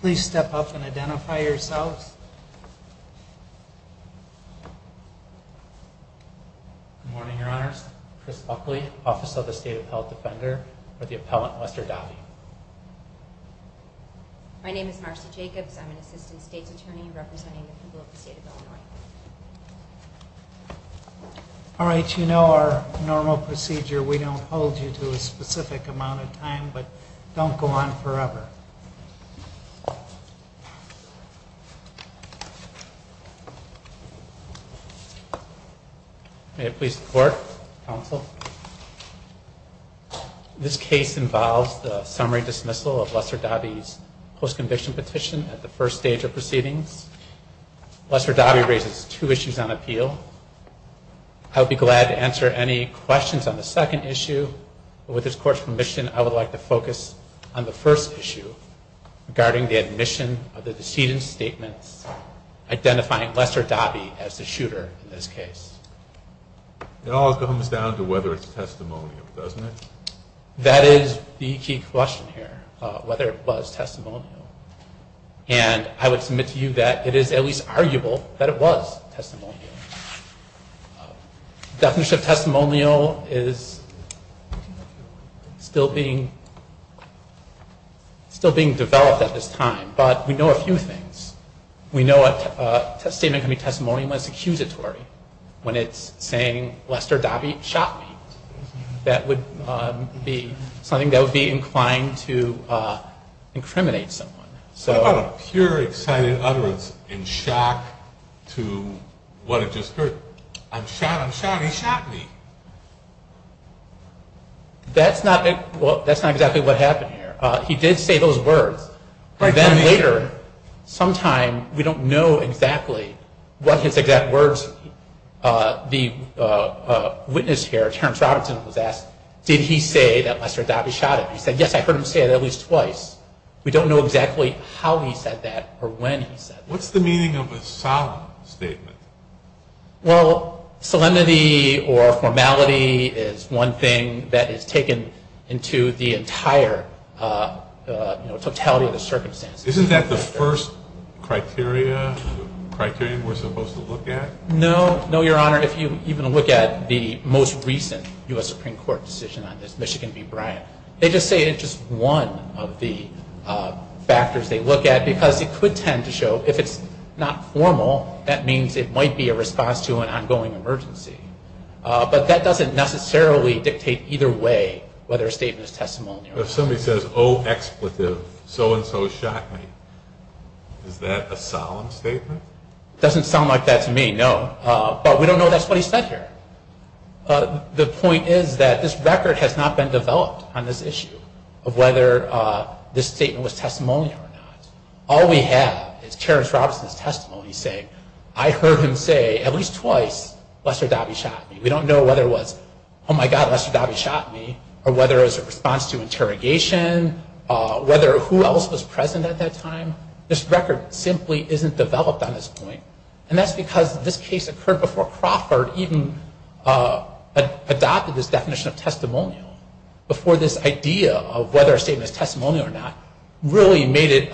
Please step up and identify yourselves. Good morning, Your Honors. Chris Buckley, Office of the State Appellate Defender for the Appellant Lester Dobbey. My name is Marcy Jacobs. I'm an Assistant State's Attorney representing the people of the State of Illinois. All right, you know our normal procedure. We don't hold you to a specific amount of time, but don't go on forever. May it please the Court, Counsel. This case involves the summary dismissal of Lester Dobbey's post-conviction petition at the first stage of proceedings. Lester Dobbey raises two issues on appeal. I would be glad to answer any questions on the second issue. With this Court's permission, I would like to focus on the first issue regarding the admission of the decedent's statements identifying Lester Dobbey as the shooter in this case. It all comes down to whether it's testimonial, doesn't it? That is the key question here, whether it was testimonial. And I would submit to you that it is at least arguable that it was testimonial. Definition of testimonial is still being developed at this time, but we know a few things. We know a statement can be testimonial when it's accusatory, when it's saying Lester Dobbey shot me. That would be something that would be inclined to incriminate someone. What about a pure, excited utterance in shock to what it just heard? I'm shot, I'm shot, he shot me. That's not exactly what happened here. He did say those words. And then later, sometime, we don't know exactly what his exact words, the witness here, Terrence Robertson, was asked, did he say that Lester Dobbey shot him? He said, yes, I heard him say it at least twice. We don't know exactly how he said that or when he said that. What's the meaning of a solemn statement? Well, solemnity or formality is one thing that is taken into the entire totality of the circumstances. Isn't that the first criteria we're supposed to look at? No, no, Your Honor. If you even look at the most recent U.S. Supreme Court decision on this, Michigan v. Bryant, they just say it's just one of the factors they look at because it could tend to show, if it's not formal, that means it might be a response to an ongoing emergency. But that doesn't necessarily dictate either way whether a statement is testimony or not. If somebody says, oh, expletive, so-and-so shot me, is that a solemn statement? Doesn't sound like that to me, no. But we don't know that's what he said here. The point is that this record has not been developed on this issue of whether this statement was testimony or not. All we have is Terrence Robinson's testimony saying, I heard him say at least twice, Lester Dobbie shot me. We don't know whether it was, oh, my God, Lester Dobbie shot me, or whether it was a response to interrogation, whether who else was present at that time. This record simply isn't developed on this point. And that's because this case occurred before Crawford even adopted this definition of testimonial, before this idea of whether a statement is testimony or not really made it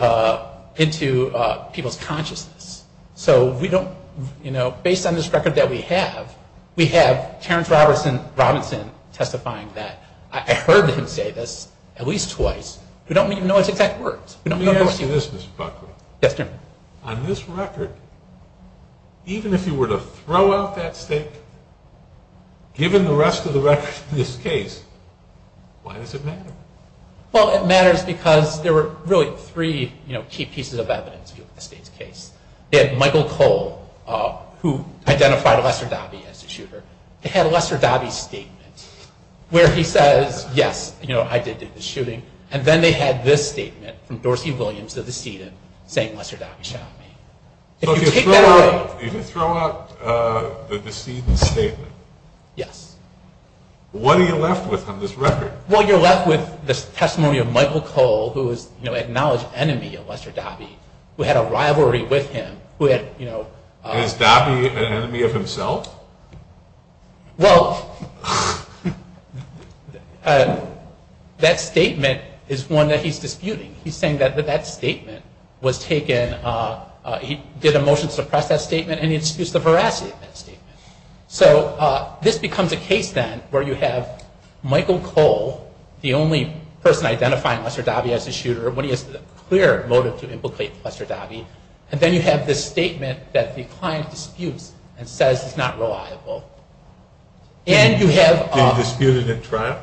into people's consciousness. So we don't, you know, based on this record that we have, we have Terrence Robinson testifying that, I heard him say this at least twice. We don't even know his exact words. Let me ask you this, Mr. Buckley. Yes, sir. And on this record, even if you were to throw out that statement, given the rest of the record in this case, why does it matter? Well, it matters because there were really three, you know, key pieces of evidence in this case. They had Michael Cole, who identified Lester Dobbie as the shooter. They had Lester Dobbie's statement where he says, yes, you know, I did do the shooting. And then they had this statement from Dorsey Williams, the decedent, saying Lester Dobbie shot me. So if you throw out the decedent's statement, what are you left with on this record? Well, you're left with this testimony of Michael Cole, who is, you know, an acknowledged enemy of Lester Dobbie, who had a rivalry with him, who had, you know... Is Dobbie an enemy of himself? Well, that statement is one that he's disputing. He's saying that that statement was taken... He did a motion to suppress that statement, and he disputes the veracity of that statement. So this becomes a case, then, where you have Michael Cole, the only person identifying Lester Dobbie as the shooter, when he has a clear motive to implicate Lester Dobbie, and then you have this statement that the client disputes and says is not reliable. And you have... They disputed at trial?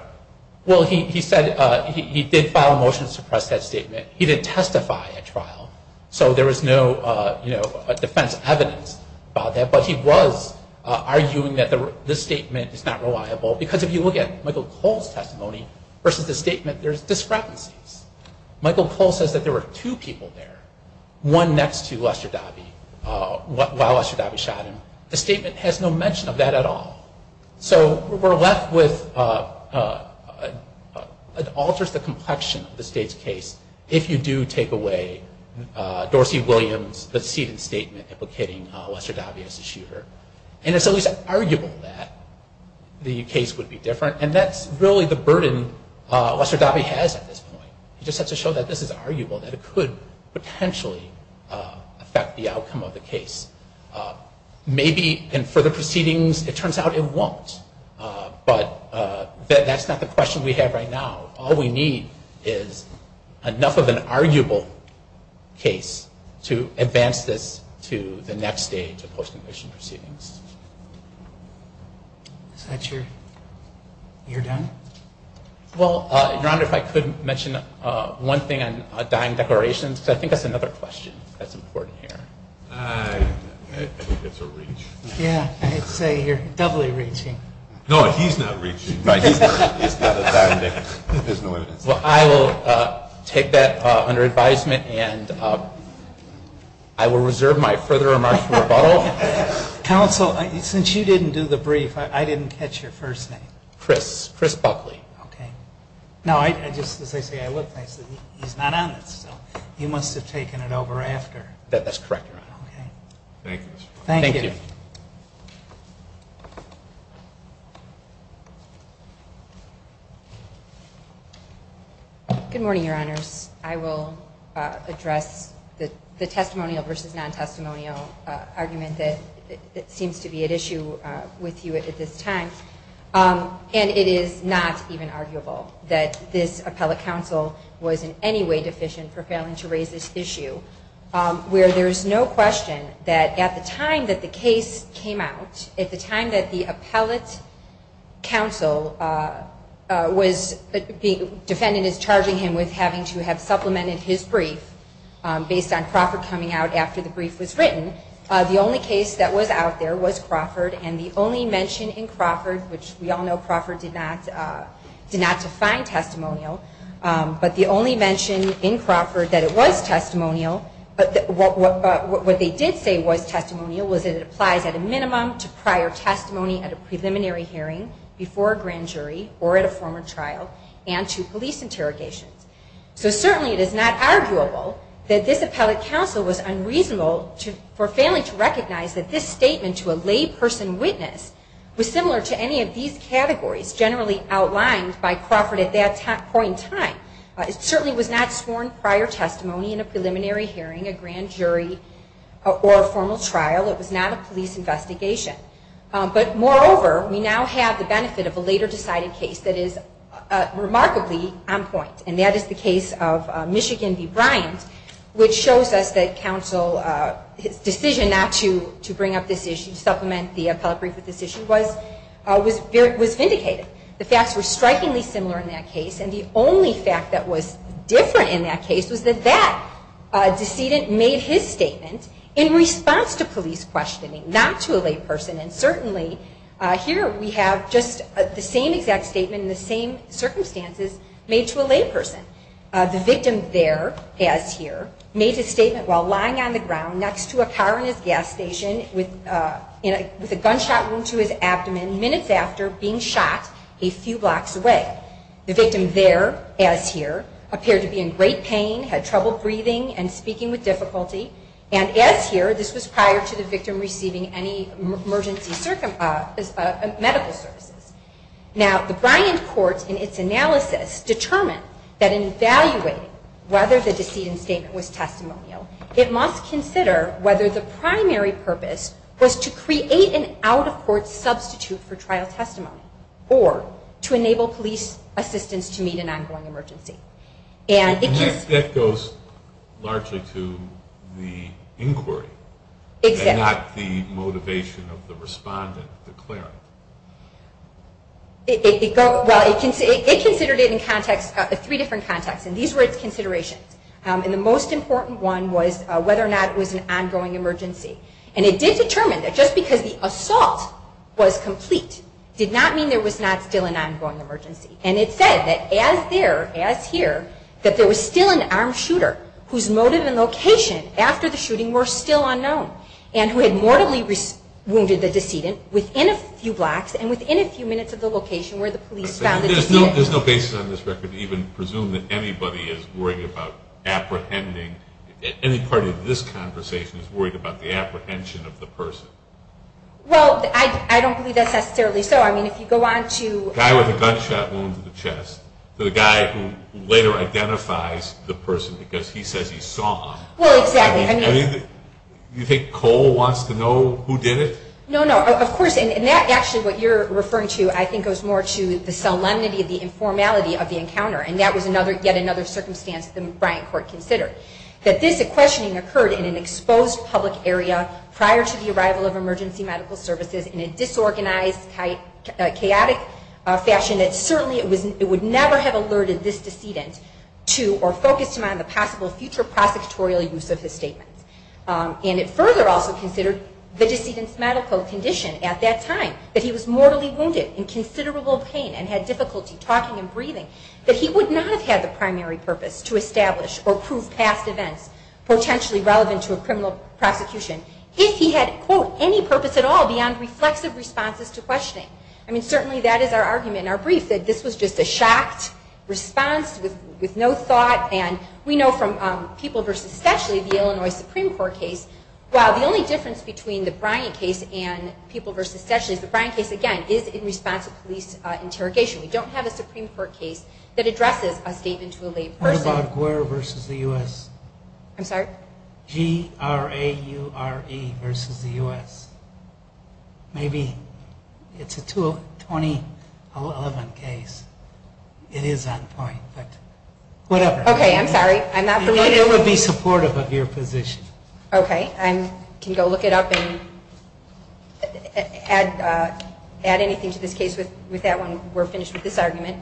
Well, he said he did file a motion to suppress that statement. He didn't testify at trial. So there was no, you know, defense evidence about that. But he was arguing that this statement is not reliable, because if you look at Michael Cole's testimony versus the statement, there's discrepancies. Michael Cole says that there were two people there. One next to Lester Dobbie while Lester Dobbie shot him. The statement has no mention of that at all. So we're left with... It alters the complexion of the state's case if you do take away Dorsey Williams' seated statement implicating Lester Dobbie as the shooter. And it's at least arguable that the case would be different, and that's really the burden Lester Dobbie has at this point. He just has to show that this is arguable, that it could potentially affect the outcome of the case. Maybe in further proceedings it turns out it won't. But that's not the question we have right now. All we need is enough of an arguable case to advance this to the next stage of post-conviction proceedings. Is that your...you're done? Well, Your Honor, if I could mention one thing on dying declarations, because I think that's another question that's important here. I think it's a reach. Yeah, I'd say you're doubly reaching. No, he's not reaching. No, he's not. It's not a dying declaration. There's no evidence. Well, I will take that under advisement, and I will reserve my further remarks for rebuttal. Counsel, since you didn't do the brief, I didn't catch your first name. Chris. Chris Buckley. Okay. Now, I just, as I say, I looked and I said, he's not on this, so he must have taken it over after. That's correct, Your Honor. Okay. Thank you. Thank you. Good morning, Your Honors. I will address the testimonial versus non-testimonial argument that seems to be at issue with you at this time. And it is not even arguable that this appellate counsel was in any way deficient for failing to raise this issue, where there is no question that at the time that the case came out, at the time that the appellate counsel was, the defendant is charging him with having to have supplemented his brief based on Crawford coming out after the brief was written, the only case that was out there was Crawford, and the only mention in Crawford, which we all know Crawford did not define testimonial, but the only mention in Crawford that it was testimonial, what they did say was testimonial was that it applies at a minimum to prior testimony at a preliminary hearing before a grand jury or at a former trial and to police interrogations. So certainly it is not arguable that this appellate counsel was unreasonable for failing to recognize that this statement to a lay person witness was similar to any of these categories generally outlined by Crawford at that point in time. It certainly was not sworn prior testimony in a preliminary hearing, a grand jury, or a formal trial. It was not a police investigation. But moreover, we now have the benefit of a later decided case that is remarkably on point, and that is the case of Michigan v. Bryant, which shows us that counsel's decision not to bring up this issue, supplement the appellate brief with this issue, was vindicated. The facts were strikingly similar in that case, and the only fact that was different in that case was that that decedent made his statement in response to police questioning, not to a lay person. And certainly here we have just the same exact statement in the same circumstances made to a lay person. The victim there, as here, made his statement while lying on the ground next to a car in his gas station with a gunshot wound to his abdomen minutes after being shot a few blocks away. The victim there, as here, appeared to be in great pain, had trouble breathing, and speaking with difficulty. And as here, this was prior to the victim receiving any emergency medical services. Now, the Bryant court in its analysis determined that in evaluating whether the decedent's statement was testimonial, it must consider whether the primary purpose was to create an out-of-court substitute for trial testimony, or to enable police assistance to meet an ongoing emergency. And that goes largely to the inquiry, and not the motivation of the respondent declaring it. It considered it in three different contexts, and these were its considerations. And the most important one was whether or not it was an ongoing emergency. And it did determine that just because the assault was complete did not mean there was not still an ongoing emergency. And it said that as there, as here, that there was still an armed shooter whose motive and location after the shooting were still unknown, and who had mortally wounded the decedent within a few blocks and within a few minutes of the location where the police found the decedent. There's no basis on this record to even presume that anybody is worried about apprehending, that any part of this conversation is worried about the apprehension of the person. Well, I don't believe that's necessarily so. I mean, if you go on to... The guy with the gunshot wound to the chest, to the guy who later identifies the person because he says he saw him. Well, exactly. Do you think Cole wants to know who did it? No, no. Of course, and that actually, what you're referring to, I think, goes more to the solemnity of the informality of the encounter. And that was yet another circumstance the Bryant court considered. That this questioning occurred in an exposed public area prior to the arrival of emergency medical services in a disorganized, chaotic fashion that certainly it would never have alerted this decedent to or focused him on the possible future prosecutorial use of his statement. And it further also considered the decedent's medical condition at that time, that he was mortally wounded in considerable pain and had difficulty talking and breathing, that he would not have had the primary purpose to establish or prove past events potentially relevant to a criminal prosecution if he had, quote, any purpose at all beyond reflexive responses to questioning. I mean, certainly that is our argument in our brief, that this was just a shocked response with no thought. And we know from People v. Stetschle, the Illinois Supreme Court case, well, the only difference between the Bryant case and People v. Stetschle is the Bryant case, again, is in response to police interrogation. We don't have a Supreme Court case that addresses a statement to a lay person. What about Guerra v. the U.S.? I'm sorry? G-R-A-U-R-E v. the U.S. Maybe it's a 2011 case. It is on point, but whatever. Okay, I'm sorry. I'm not familiar. It would be supportive of your position. Okay. I can go look it up and add anything to this case with that one. We're finished with this argument.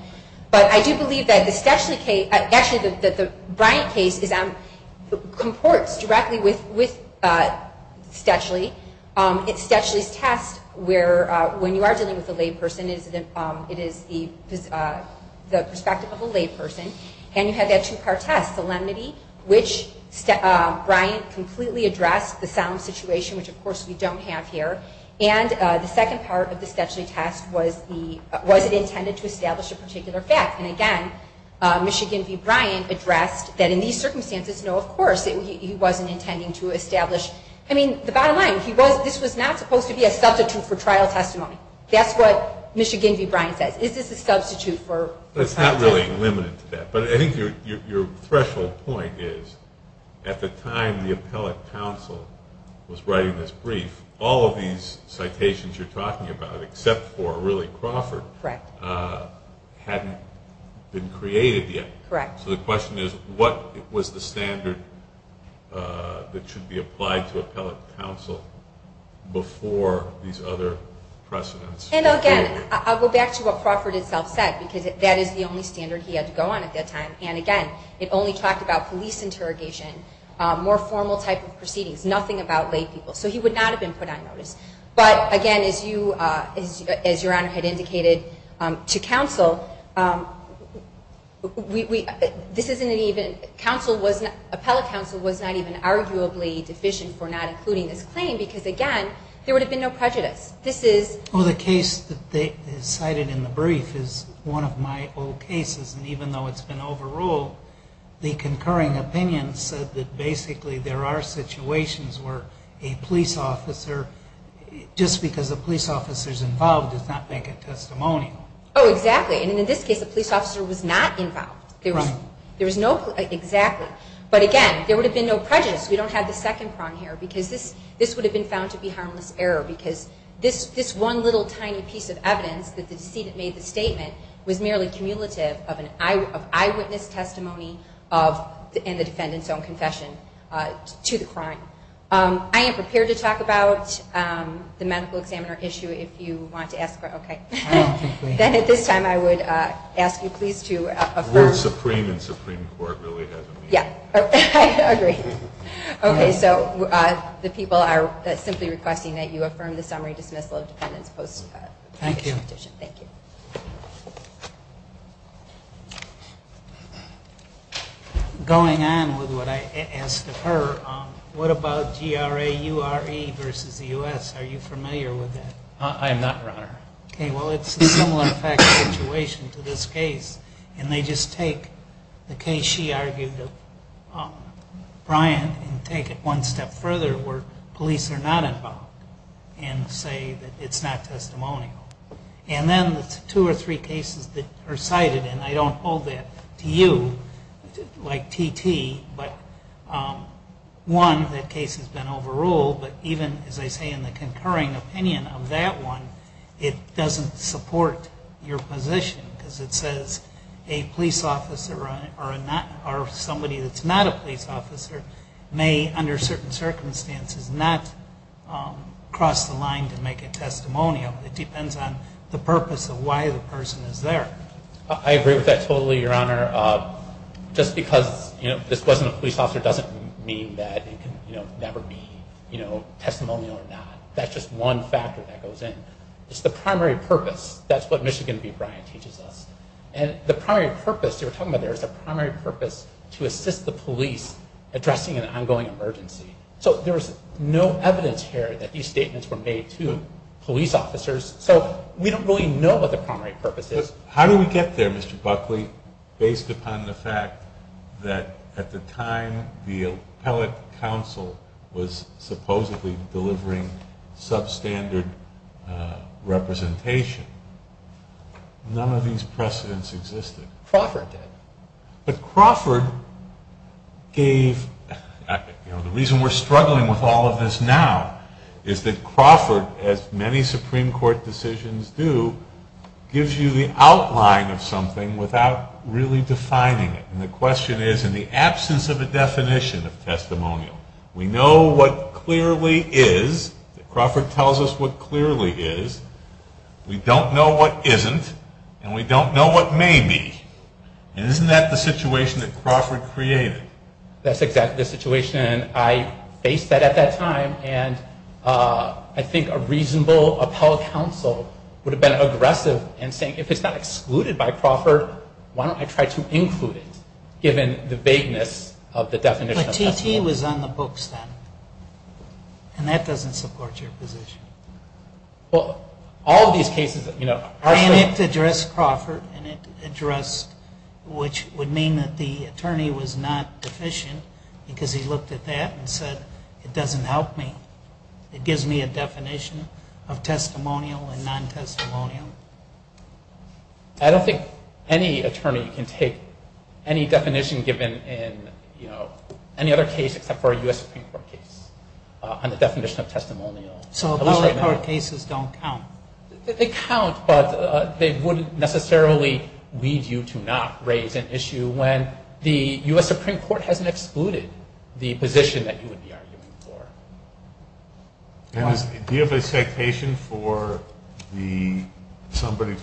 But I do believe that the Stetschle case, actually the Bryant case, comports directly with Stetschle. It's Stetschle's test where when you are dealing with a lay person, it is the perspective of a lay person. And you have that two-part test, solemnity, which Bryant completely addressed the solemn situation, which, of course, we don't have here. And the second part of the Stetschle test was, was it intended to establish a particular fact? And, again, Michigan v. Bryant addressed that in these circumstances, no, of course, he wasn't intending to establish. I mean, the bottom line, this was not supposed to be a substitute for trial testimony. That's what Michigan v. Bryant says. Is this a substitute for trial testimony? It's not really limited to that, but I think your threshold point is at the time the appellate counsel was writing this brief, all of these citations you're talking about, except for really Crawford, hadn't been created yet. Correct. So the question is, what was the standard that should be applied to appellate counsel before these other precedents? And, again, I'll go back to what Crawford himself said, because that is the only standard he had to go on at that time. And, again, it only talked about police interrogation, more formal type of proceedings, nothing about lay people. So he would not have been put on notice. But, again, as your Honor had indicated to counsel, appellate counsel was not even arguably deficient for not including this claim, because, again, there would have been no prejudice. Well, the case that is cited in the brief is one of my old cases, and even though it's been overruled, the concurring opinion said that, basically, there are situations where a police officer, just because a police officer is involved, does not make a testimony. Oh, exactly. And in this case, a police officer was not involved. Right. Exactly. But, again, there would have been no prejudice. We don't have the second prong here, because this would have been found to be harmless error, because this one little tiny piece of evidence, that the decedent made the statement, was merely cumulative of eyewitness testimony and the defendant's own confession to the crime. I am prepared to talk about the medical examiner issue, if you want to ask her. Okay. Then, at this time, I would ask you please to affirm. The word supreme in Supreme Court really doesn't mean that. Yeah. I agree. Okay. So the people are simply requesting that you affirm the summary dismissal of defendant's post-conviction petition. Thank you. Thank you. Going on with what I asked of her, what about G-R-A-U-R-E versus the U.S.? Are you familiar with that? I am not, Your Honor. Okay. Well, it's a similar fact situation to this case, and they just take the case she argued of Bryant and take it one step further where police are not involved and say that it's not testimonial. And then the two or three cases that are cited, and I don't hold that to you like T.T., but one, that case has been overruled, but even, as I say, in the concurring opinion of that one, it doesn't support your position because it says a police officer or somebody that's not a police officer may, under certain circumstances, not cross the line to make a testimonial. It depends on the purpose of why the person is there. I agree with that totally, Your Honor. Just because this wasn't a police officer doesn't mean that it can never be testimonial or not. That's just one factor that goes in. It's the primary purpose. That's what Michigan v. Bryant teaches us. And the primary purpose, you were talking about there, is the primary purpose to assist the police addressing an ongoing emergency. So there's no evidence here that these statements were made to police officers, so we don't really know what the primary purpose is. How did we get there, Mr. Buckley, based upon the fact that at the time the appellate counsel was supposedly delivering substandard representation? None of these precedents existed. Crawford did. But Crawford gave, you know, the reason we're struggling with all of this now is that Crawford, as many Supreme Court decisions do, gives you the outline of something without really defining it. And the question is, in the absence of a definition of testimonial, we know what clearly is. Crawford tells us what clearly is. We don't know what isn't. And we don't know what may be. And isn't that the situation that Crawford created? That's exactly the situation. I faced that at that time, and I think a reasonable appellate counsel would have been aggressive in saying if it's not excluded by Crawford, why don't I try to include it, given the vagueness of the definition of testimonial. But T.T. was on the books then. And that doesn't support your position. Well, all of these cases, you know. And it addressed Crawford, and it addressed which would mean that the attorney was not deficient because he looked at that and said, it doesn't help me. It gives me a definition of testimonial and non-testimonial. I don't think any attorney can take any definition given in, you know, any other case except for a U.S. Supreme Court case on the definition of testimonial. So the lower court cases don't count. They count, but they wouldn't necessarily lead you to not raise an issue when the U.S. Supreme Court hasn't excluded the position that you would be arguing for. Do you have a citation for somebody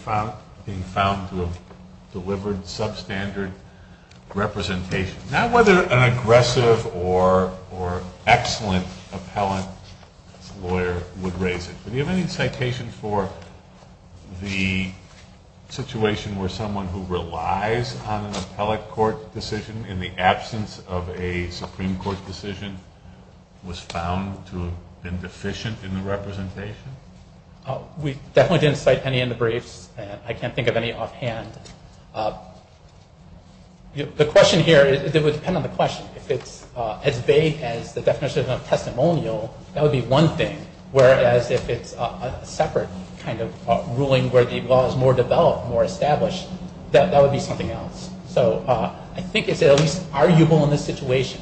being found to have delivered substandard representation? Not whether an aggressive or excellent appellate lawyer would raise it, but do you have any citation for the situation where someone who relies on an appellate court decision in the absence of a Supreme Court decision was found to have been deficient in the representation? We definitely didn't cite any in the briefs. I can't think of any offhand. The question here, it would depend on the question. If it's as vague as the definition of testimonial, that would be one thing, whereas if it's a separate kind of ruling where the law is more developed, more established, that would be something else. So I think it's at least arguable in this situation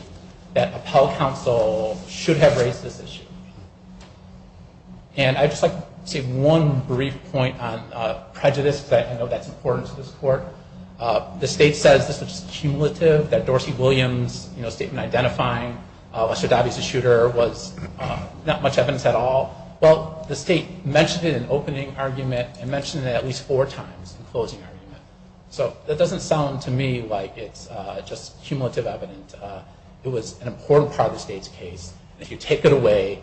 that appellate counsel should have raised this issue. And I'd just like to say one brief point on prejudice, because I know that's important to this court. The state says this was cumulative, that Dorsey Williams' statement identifying Lester Dobby as a shooter was not much evidence at all. Well, the state mentioned it in opening argument and mentioned it at least four times in closing argument. So that doesn't sound to me like it's just cumulative evidence. It was an important part of the state's case. If you take it away,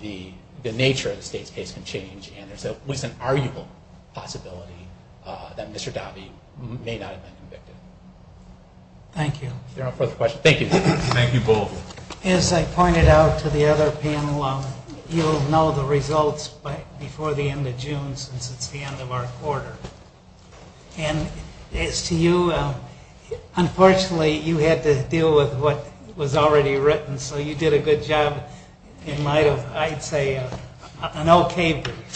the nature of the state's case can change, and there's at least an arguable possibility that Mr. Dobby may not have been convicted. Thank you. If there are no further questions, thank you. Thank you both. As I pointed out to the other panel, you'll know the results before the end of June since it's the end of our quarter. And as to you, unfortunately you had to deal with what was already written, so you did a good job in light of, I'd say, an okay brief.